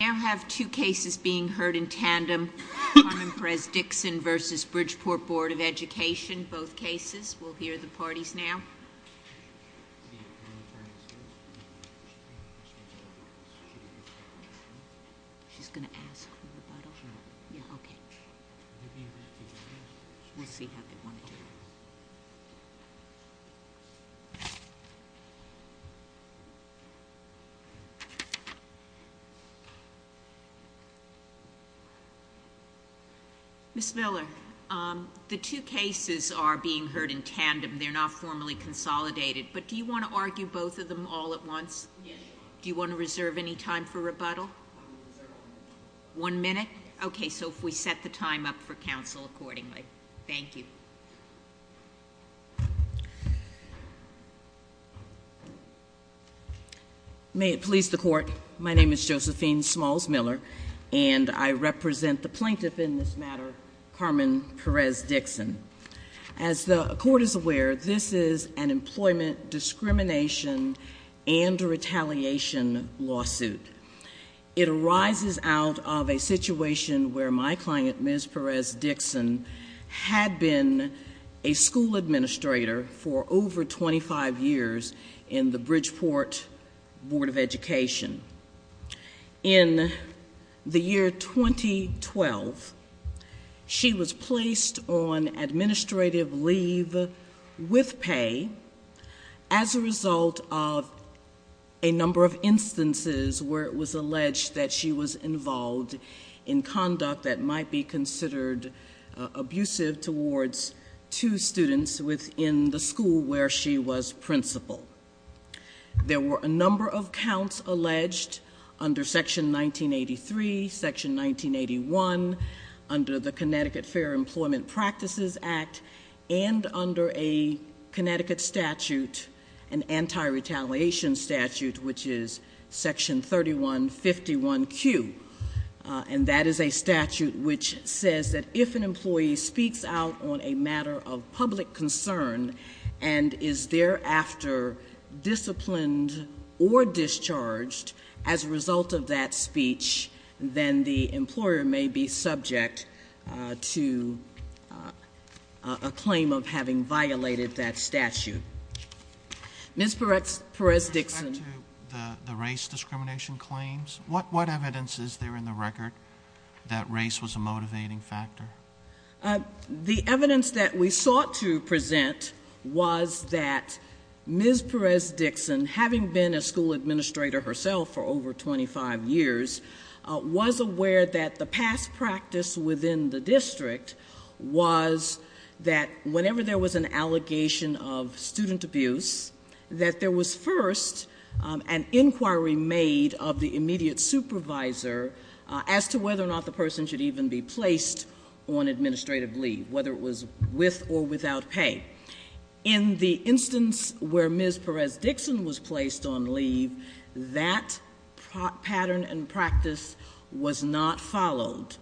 Now have two cases being heard in tandem. Carmen Perez-Dickson v. Bridgeport Board of Education, both cases. We'll hear the parties now. Ms. Miller, the two cases are being heard in tandem. They're not formally consolidated, but do you want to argue both of them all at once? Yes. Do you want to reserve any time for rebuttal? One minute. One minute? Okay, so if we set the time up for counsel accordingly. Thank you. May it please the Court, my name is Josephine Smalls Miller, and I represent the plaintiff in this matter, Carmen Perez-Dickson. As the Court is aware, this is an employment discrimination and retaliation lawsuit. It arises out of a situation where my client, Ms. Perez-Dickson, had been a school administrator for over 25 years in the Bridgeport Board of Education. In the year 2012, she was placed on administrative leave with pay as a result of a number of instances where it was alleged that she was involved in conduct that might be considered abusive towards two students within the school where she was principal. There were a number of counts alleged under Section 1983, Section 1981, under the Connecticut Fair Employment Practices Act, and under a Connecticut statute, an anti-retaliation statute, which is Section 3151Q. And that is a statute which says that if an employee speaks out on a matter of public concern and is thereafter disciplined or discharged as a result of that speech, then the employer may be subject to a claim of having violated that statute. Ms. Perez-Dickson. With respect to the race discrimination claims, what evidence is there in the record that race was a motivating factor? The evidence that we sought to present was that Ms. Perez-Dickson, having been a school administrator herself for over 25 years, was aware that the past practice within the district was that whenever there was an allegation of student abuse, that there was first an inquiry made of the immediate supervisor as to whether or not the person should even be placed on administrative leave, whether it was with or without pay. In the instance where Ms. Perez-Dickson was placed on leave, that pattern and practice was not followed.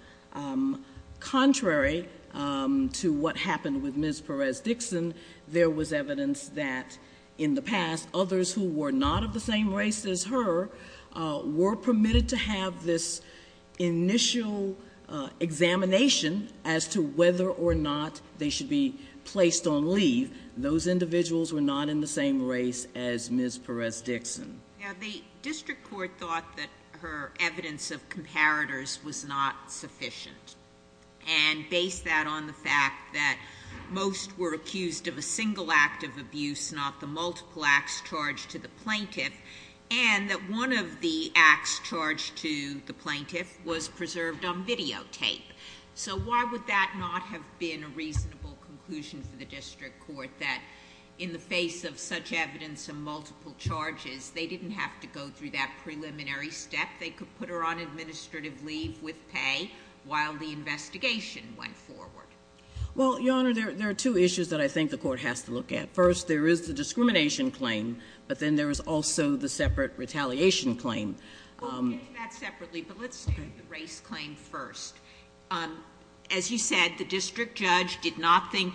Contrary to what happened with Ms. Perez-Dickson, there was evidence that in the past, those individuals were not in the same race as Ms. Perez-Dickson. The district court thought that her evidence of comparators was not sufficient, and based that on the fact that most were accused of a single act of abuse, not the multiple acts charged to the plaintiff, and that one of the acts charged to the plaintiff was preserved on videotape. So why would that not have been a reasonable conclusion for the district court that, in the face of such evidence of multiple charges, they didn't have to go through that preliminary step? They could put her on administrative leave with pay while the investigation went forward? Well, Your Honor, there are two issues that I think the court has to look at. First, there is the discrimination claim, but then there is also the separate retaliation claim. We'll get to that separately, but let's take the race claim first. As you said, the district judge did not think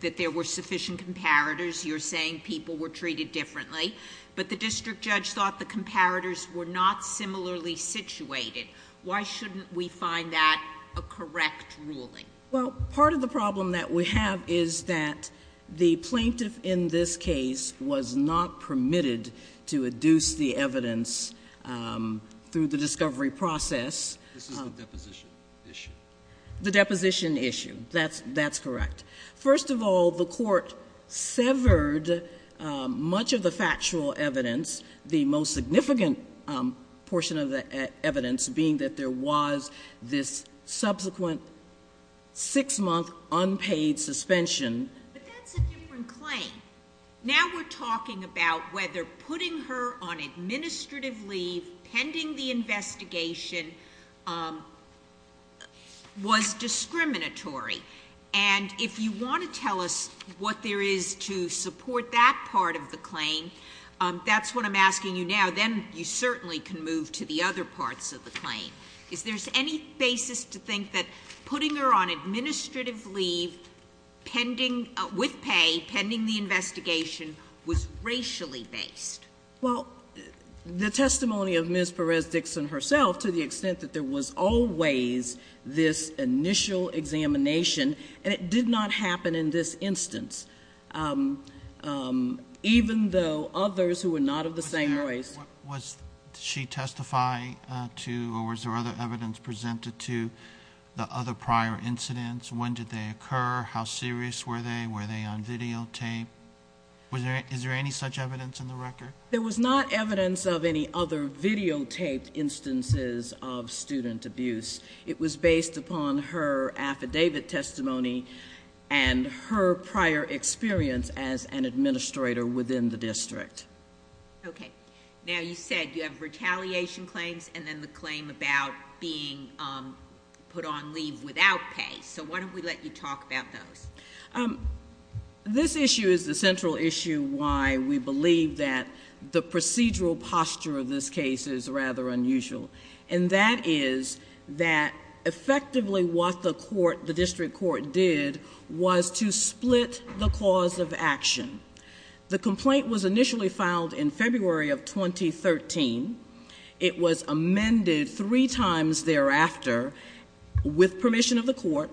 that there were sufficient comparators. You're saying people were treated differently, but the district judge thought the comparators were not similarly situated. Why shouldn't we find that a correct ruling? Well, part of the problem that we have is that the plaintiff in this case was not permitted to adduce the evidence through the discovery process. This is the deposition issue. The deposition issue, that's correct. First of all, the court severed much of the factual evidence, the most significant portion of the evidence being that there was this subsequent six-month unpaid suspension. But that's a different claim. Now we're talking about whether putting her on administrative leave pending the investigation was discriminatory. And if you want to tell us what there is to support that part of the claim, that's what I'm asking you now. Then you certainly can move to the other parts of the claim. Is there any basis to think that putting her on administrative leave with pay, pending the investigation, was racially based? Well, the testimony of Ms. Perez-Dixon herself, to the extent that there was always this initial examination, and it did not happen in this instance, even though others who were not of the same race. Was she testifying to or was there other evidence presented to the other prior incidents? When did they occur? How serious were they? Were they on videotape? Is there any such evidence in the record? There was not evidence of any other videotaped instances of student abuse. It was based upon her affidavit testimony and her prior experience as an administrator within the district. Okay. Now you said you have retaliation claims and then the claim about being put on leave without pay. So why don't we let you talk about those? This issue is the central issue why we believe that the procedural posture of this case is rather unusual. And that is that effectively what the court, the district court, did was to split the cause of action. The complaint was initially filed in February of 2013. It was amended three times thereafter with permission of the court.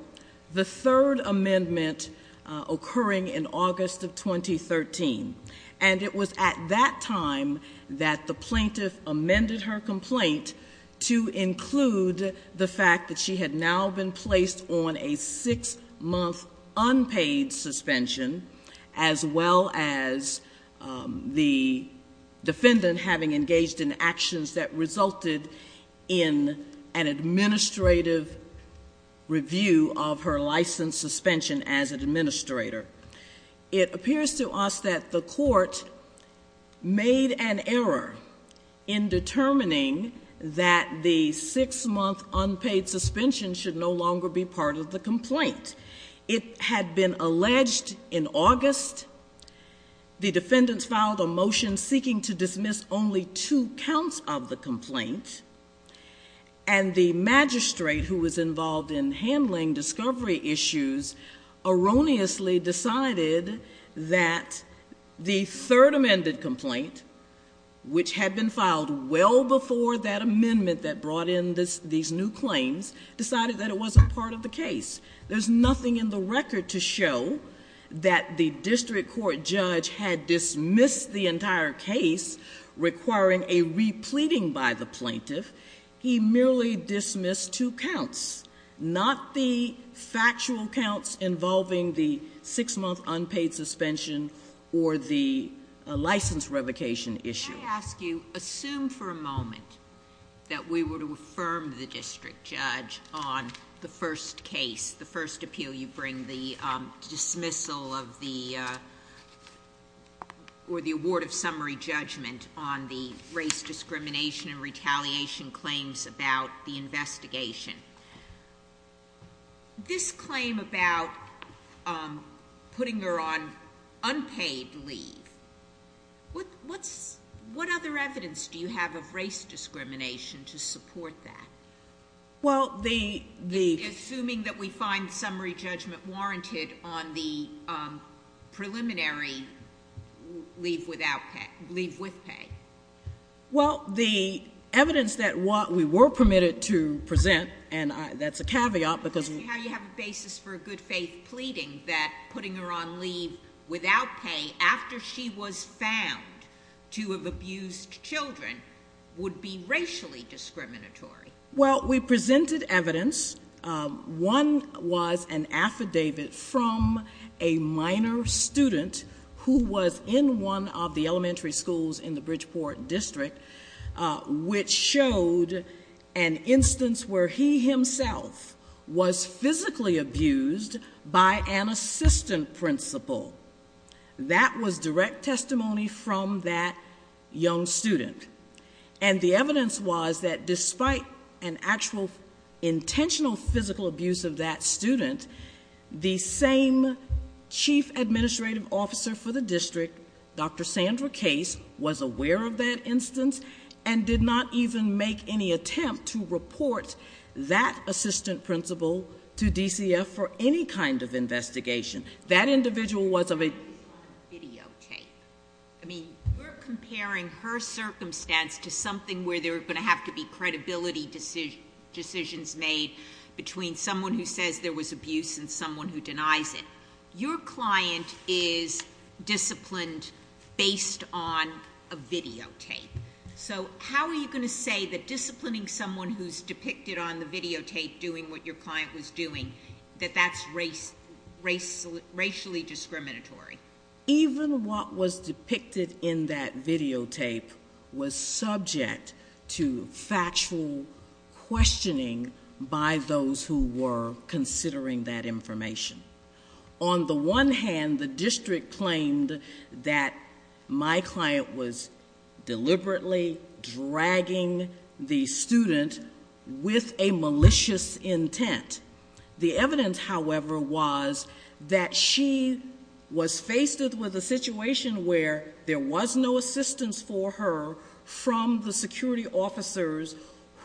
The third amendment occurring in August of 2013. And it was at that time that the plaintiff amended her complaint to include the fact that she had now been placed on a six month unpaid suspension. As well as the defendant having engaged in actions that resulted in an administrative review of her license suspension as an administrator. It appears to us that the court made an error in determining that the six month unpaid suspension should no longer be part of the complaint. It had been alleged in August. The defendants filed a motion seeking to dismiss only two counts of the complaint. And the magistrate who was involved in handling discovery issues erroneously decided that the third amended complaint, which had been filed well before that amendment that brought in these new claims, decided that it wasn't part of the case. There's nothing in the record to show that the district court judge had dismissed the entire case requiring a repleting by the plaintiff. He merely dismissed two counts. Not the factual counts involving the six month unpaid suspension or the license revocation issue. Let me ask you, assume for a moment that we were to affirm the district judge on the first case, the first appeal you bring, the dismissal of the, or the award of summary judgment on the race discrimination and retaliation claims about the investigation. This claim about putting her on unpaid leave. What other evidence do you have of race discrimination to support that? Assuming that we find summary judgment warranted on the preliminary leave with pay. Well, the evidence that we were permitted to present, and that's a caveat because- How do you have a basis for a good faith pleading that putting her on leave without pay after she was found to have abused children would be racially discriminatory? Well, we presented evidence. One was an affidavit from a minor student who was in one of the elementary schools in the Bridgeport district, which showed an instance where he himself was physically abused by an assistant principal. That was direct testimony from that young student. And the evidence was that despite an actual intentional physical abuse of that student, the same chief administrative officer for the district, Dr. Sandra Case, was aware of that instance and did not even make any attempt to report that assistant principal to DCF for any kind of investigation. That individual was of a- Based on videotape. I mean, we're comparing her circumstance to something where there are going to have to be credibility decisions made between someone who says there was abuse and someone who denies it. Your client is disciplined based on a videotape. So how are you going to say that disciplining someone who's depicted on the videotape doing what your client was doing, that that's racially discriminatory? Even what was depicted in that videotape was subject to factual questioning by those who were considering that information. On the one hand, the district claimed that my client was deliberately dragging the student with a malicious intent. The evidence, however, was that she was faced with a situation where there was no assistance for her from the security officers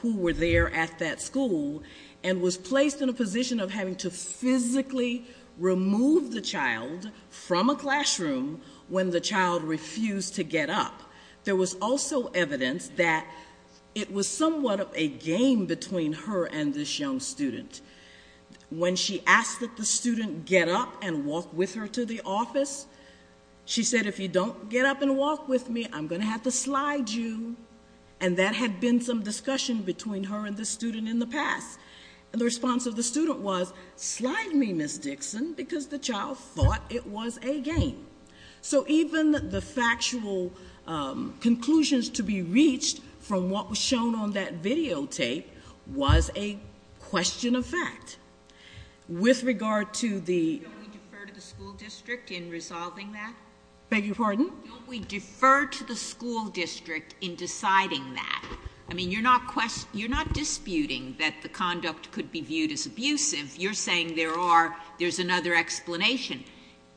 who were there at that school and was placed in a position of having to physically remove the child from a classroom when the child refused to get up. There was also evidence that it was somewhat of a game between her and this young student. When she asked that the student get up and walk with her to the office, she said, if you don't get up and walk with me, I'm going to have to slide you. And that had been some discussion between her and this student in the past. And the response of the student was, slide me, Ms. Dixon, because the child thought it was a game. So even the factual conclusions to be reached from what was shown on that videotape was a question of fact. With regard to the... Don't we defer to the school district in resolving that? Beg your pardon? Don't we defer to the school district in deciding that? I mean, you're not disputing that the conduct could be viewed as abusive. You're saying there's another explanation.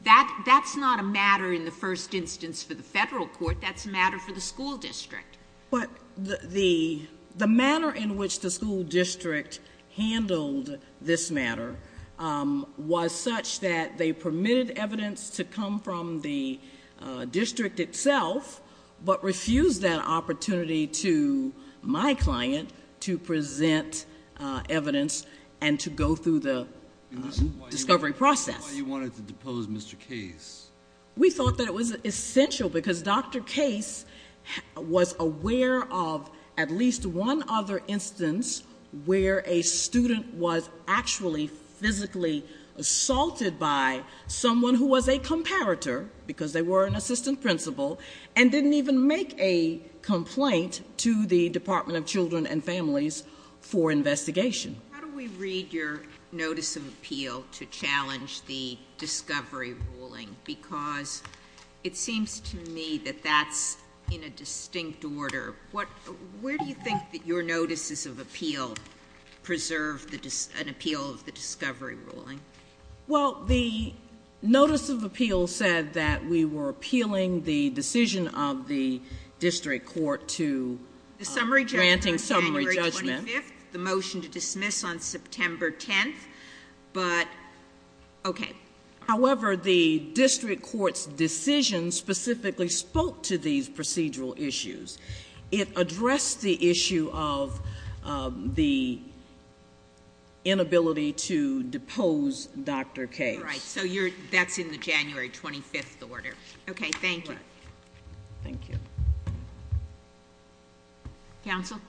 That's not a matter in the first instance for the federal court. That's a matter for the school district. But the manner in which the school district handled this matter was such that they permitted evidence to come from the district itself, but refused that opportunity to my client to present evidence and to go through the discovery process. Why you wanted to depose Mr. Case? We thought that it was essential because Dr. Case was aware of at least one other instance where a student was actually physically assaulted by someone who was a comparator, because they were an assistant principal, and didn't even make a complaint to the Department of Children and Families for investigation. How do we read your notice of appeal to challenge the discovery ruling? Because it seems to me that that's in a distinct order. Where do you think that your notices of appeal preserve an appeal of the discovery ruling? Well, the notice of appeal said that we were appealing the decision of the district court to granting summary judgment. The motion to dismiss on September 10th, but okay. However, the district court's decision specifically spoke to these procedural issues. It addressed the issue of the inability to depose Dr. Case. Right, so that's in the January 25th order. Okay, thank you. Thank you. Counsel?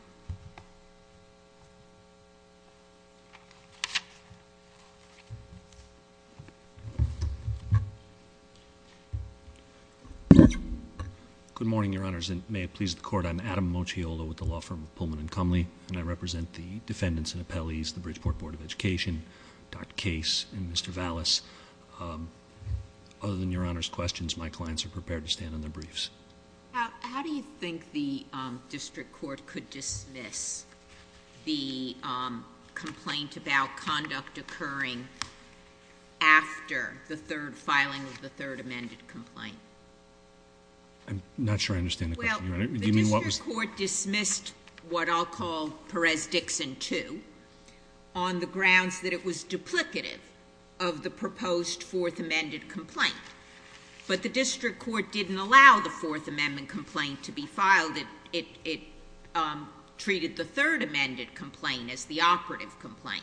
Good morning, Your Honors, and may it please the Court. I'm Adam Mochiolo with the law firm of Pullman & Cumley, and I represent the defendants and appellees, the Bridgeport Board of Education, Dr. Case, and Mr. Vallis. Other than Your Honor's questions, my clients are prepared to stand on their briefs. How do you think the district court could dismiss the complaint about conduct occurring after the third filing of the third amended complaint? I'm not sure I understand the question, Your Honor. Well, the district court dismissed what I'll call Perez-Dixon II on the grounds that it was duplicative of the proposed fourth amended complaint. But the district court didn't allow the fourth amendment complaint to be filed. It treated the third amended complaint as the operative complaint.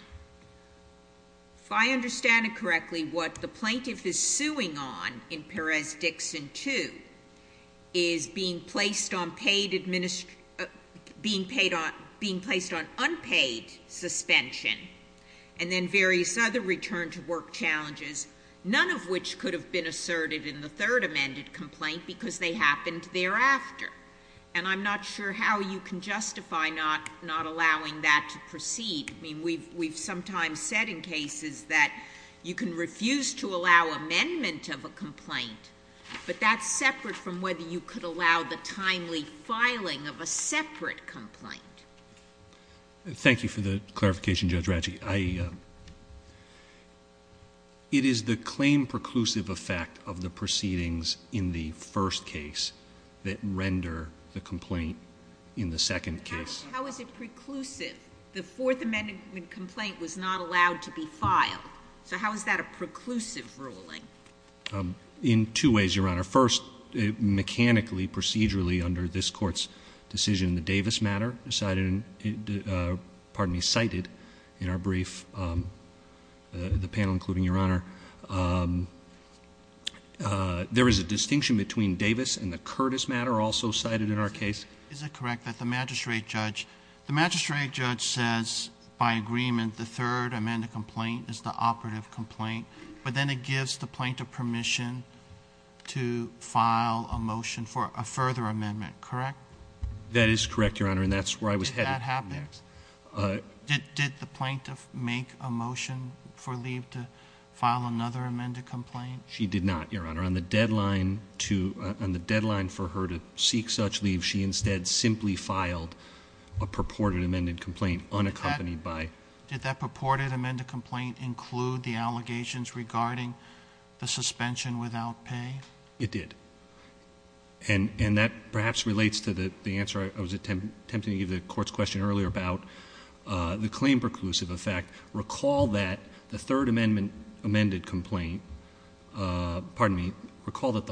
If I understand it correctly, what the plaintiff is suing on in Perez-Dixon II is being placed on unpaid suspension and then various other return to work challenges, none of which could have been asserted in the third amended complaint because they happened thereafter. And I'm not sure how you can justify not allowing that to proceed. I mean, we've sometimes said in cases that you can refuse to allow amendment of a complaint, but that's separate from whether you could allow the timely filing of a separate complaint. Thank you for the clarification, Judge Ratzke. It is the claim preclusive effect of the proceedings in the first case that render the complaint in the second case. How is it preclusive? The fourth amended complaint was not allowed to be filed. So how is that a preclusive ruling? In two ways, Your Honor. First, mechanically, procedurally under this court's decision, the Davis matter cited in our brief, the panel including Your Honor, there is a distinction between Davis and the Curtis matter also cited in our case. Is it correct that the magistrate judge says by agreement the third amended complaint is the operative complaint, but then it gives the plaintiff permission to file a motion for a further amendment, correct? That is correct, Your Honor, and that's where I was headed. Did that happen? Did the plaintiff make a motion for leave to file another amended complaint? She did not, Your Honor. On the deadline for her to seek such leave, she instead simply filed a purported amended complaint unaccompanied by. Did that purported amended complaint include the allegations regarding the suspension without pay? It did. And that perhaps relates to the answer I was attempting to give the court's question earlier about the claim preclusive effect. Recall that the third amended complaint, pardon me, recall that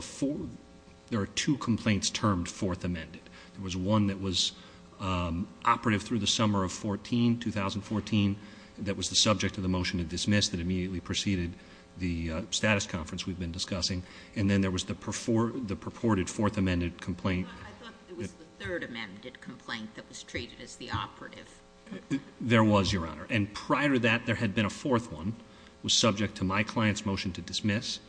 there are two complaints termed fourth amended. There was one that was operative through the summer of 14, 2014, that was the subject of the motion to dismiss that immediately preceded the status conference we've been discussing. And then there was the purported fourth amended complaint. I thought it was the third amended complaint that was treated as the operative. There was, Your Honor. And prior to that, there had been a fourth one, was subject to my client's motion to dismiss.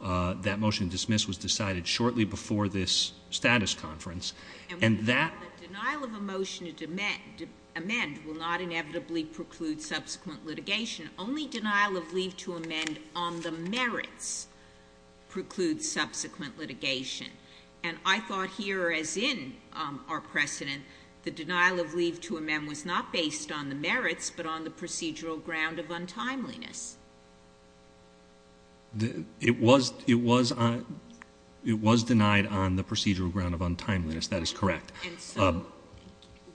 That motion to dismiss was decided shortly before this status conference. And that- The denial of a motion to amend will not inevitably preclude subsequent litigation. Only denial of leave to amend on the merits precludes subsequent litigation. And I thought here, as in our precedent, the denial of leave to amend was not based on the merits but on the procedural ground of untimeliness. It was denied on the procedural ground of untimeliness. That is correct. And so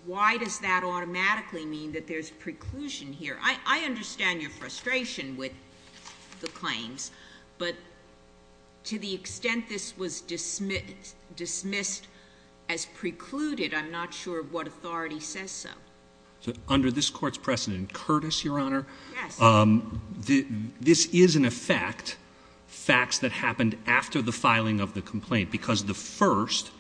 why does that automatically mean that there's preclusion here? I understand your frustration with the claims, but to the extent this was dismissed as precluded, I'm not sure what authority says so. So under this court's precedent, Curtis, Your Honor- Yes. This is, in effect, facts that happened after the filing of the complaint because the first-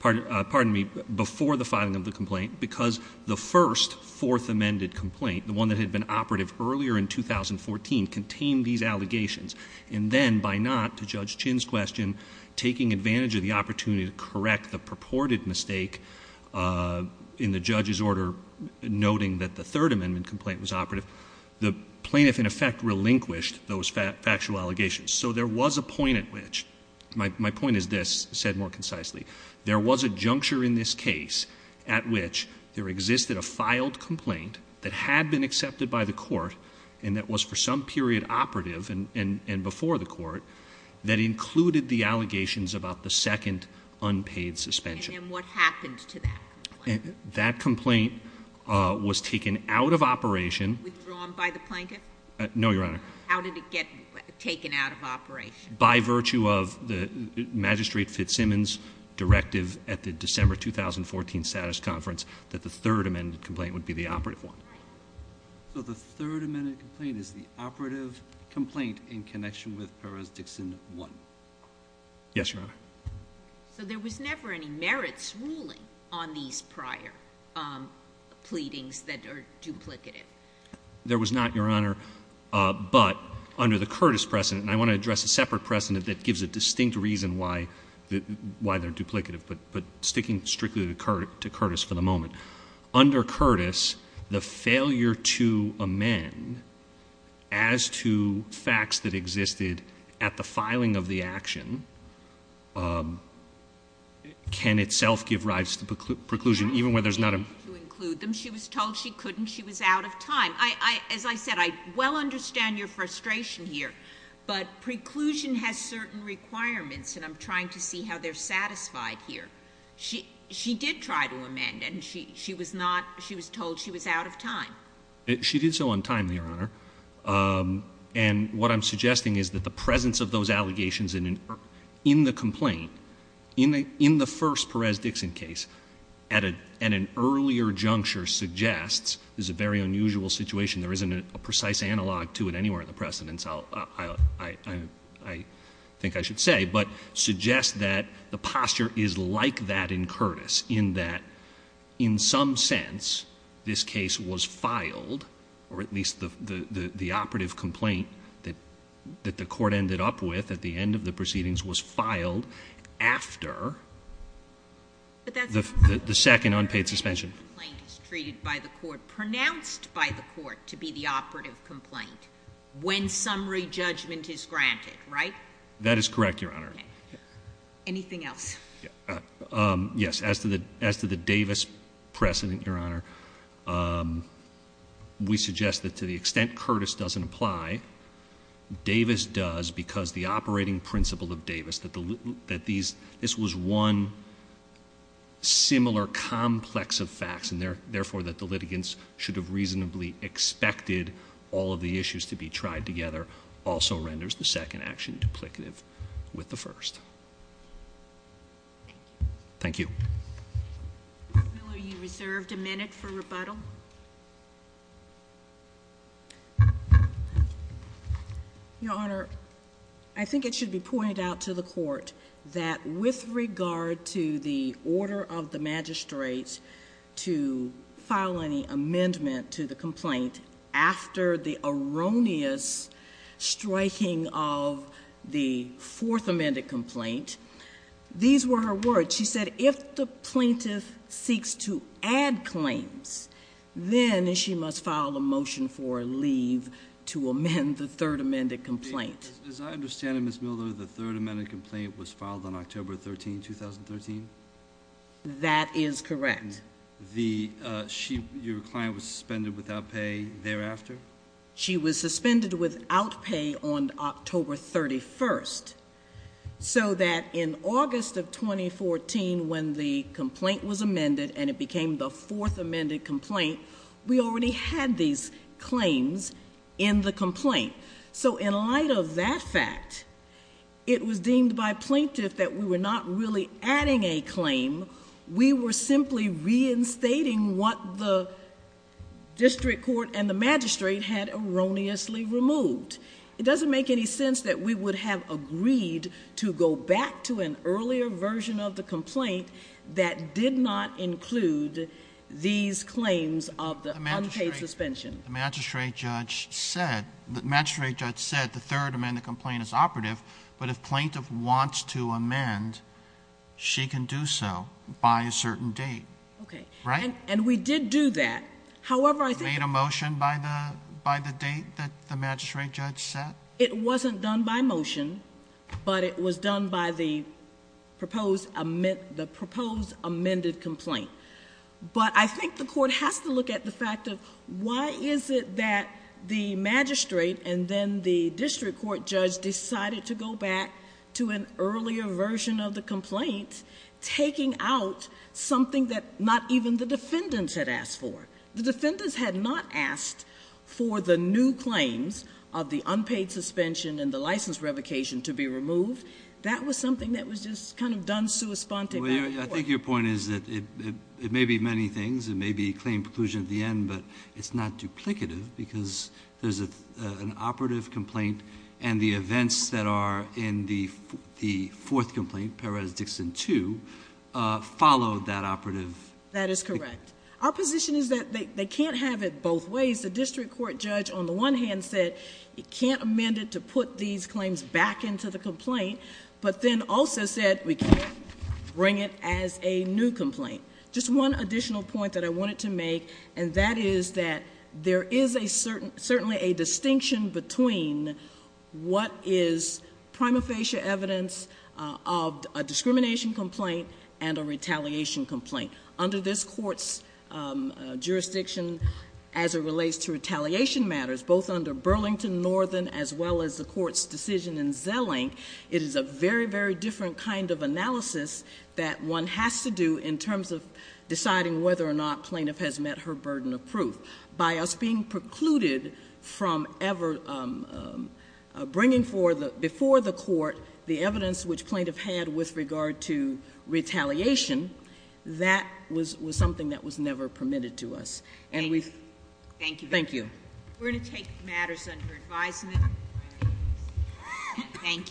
pardon me, before the filing of the complaint because the first fourth amended complaint, the one that had been operative earlier in 2014, contained these allegations. And then, by not, to Judge Chin's question, taking advantage of the opportunity to correct the purported mistake in the judge's order, noting that the third amendment complaint was operative, the plaintiff, in effect, relinquished those factual allegations. So there was a point at which, my point is this, said more concisely, there was a juncture in this case at which there existed a filed complaint that had been accepted by the court, and that was for some period operative and before the court, that included the allegations about the second unpaid suspension. And then what happened to that complaint? That complaint was taken out of operation- Withdrawn by the plaintiff? No, Your Honor. How did it get taken out of operation? By virtue of the Magistrate Fitzsimmons' directive at the December 2014 status conference that the third amended complaint would be the operative one. Right. So the third amended complaint is the operative complaint in connection with Perez-Dixon 1. Yes, Your Honor. So there was never any merits ruling on these prior pleadings that are duplicative? There was not, Your Honor, but under the Curtis precedent, and I want to address a separate precedent that gives a distinct reason why they're duplicative, but sticking strictly to Curtis for the moment. Under Curtis, the failure to amend as to facts that existed at the filing of the action can itself give rise to preclusion, even when there's not a- I didn't mean to include them. She was told she couldn't. She was out of time. As I said, I well understand your frustration here, but preclusion has certain requirements, and I'm trying to see how they're satisfied here. She did try to amend, and she was told she was out of time. She did so on time, Your Honor, and what I'm suggesting is that the presence of those allegations in the complaint, in the first Perez-Dixon case, at an earlier juncture, suggests there's a very unusual situation. There isn't a precise analog to it anywhere in the precedents, I think I should say, but suggests that the posture is like that in Curtis, in that, in some sense, this case was filed, or at least the operative complaint that the court ended up with at the end of the proceedings was filed after the second unpaid suspension. But that's not to say that the complaint is treated by the court, pronounced by the court to be the operative complaint, when summary judgment is granted, right? That is correct, Your Honor. Anything else? Yes. As to the Davis precedent, Your Honor, we suggest that to the extent Curtis doesn't apply, Davis does because the operating principle of Davis, that this was one similar complex of facts, and therefore that the litigants should have reasonably expected all of the issues to be tried together, also renders the second action duplicative with the first. Thank you. Thank you. Ms. Miller, you reserved a minute for rebuttal. Your Honor, I think it should be pointed out to the court that with regard to the order of the magistrates to file any amendment to the complaint after the erroneous striking of the fourth amended complaint, these were her words. She said, if the plaintiff seeks to add claims, then she must file a motion for leave to amend the third amended complaint. As I understand it, Ms. Miller, the third amended complaint was filed on October 13, 2013? That is correct. Your client was suspended without pay thereafter? She was suspended without pay on October 31st, so that in August of 2014 when the complaint was amended and it became the fourth amended complaint, we already had these claims in the complaint. In light of that fact, it was deemed by plaintiff that we were not really adding a claim. We were simply reinstating what the district court and the magistrate had erroneously removed. It doesn't make any sense that we would have agreed to go back to an earlier version of the complaint that did not include these claims of the unpaid suspension. The magistrate judge said the third amended complaint is operative, but if plaintiff wants to amend, she can do so by a certain date. Okay. Right? And we did do that. You made a motion by the date that the magistrate judge said? It wasn't done by motion, but it was done by the proposed amended complaint. But I think the court has to look at the fact of why is it that the magistrate and then the district court judge decided to go back to an earlier version of the complaint, taking out something that not even the defendants had asked for. The defendants had not asked for the new claims of the unpaid suspension and the license revocation to be removed. That was something that was just kind of done sui sponte by the court. I think your point is that it may be many things. It may be claim preclusion at the end, but it's not duplicative because there's an operative complaint and the events that are in the fourth complaint, Perez-Dixon 2, followed that operative. That is correct. Our position is that they can't have it both ways. The district court judge on the one hand said it can't amend it to put these claims back into the complaint, but then also said we can't bring it as a new complaint. Just one additional point that I wanted to make, and that is that there is certainly a distinction between what is prima facie evidence of a discrimination complaint and a retaliation complaint. Under this court's jurisdiction, as it relates to retaliation matters, both under Burlington Northern as well as the court's decision in Zelling, it is a very, very different kind of analysis that one has to do in terms of deciding whether or not plaintiff has met her burden of proof. By us being precluded from ever bringing before the court the evidence which plaintiff had with regard to retaliation, that was something that was never permitted to us. Thank you. Thank you. We're going to take matters under advisement. Thank you.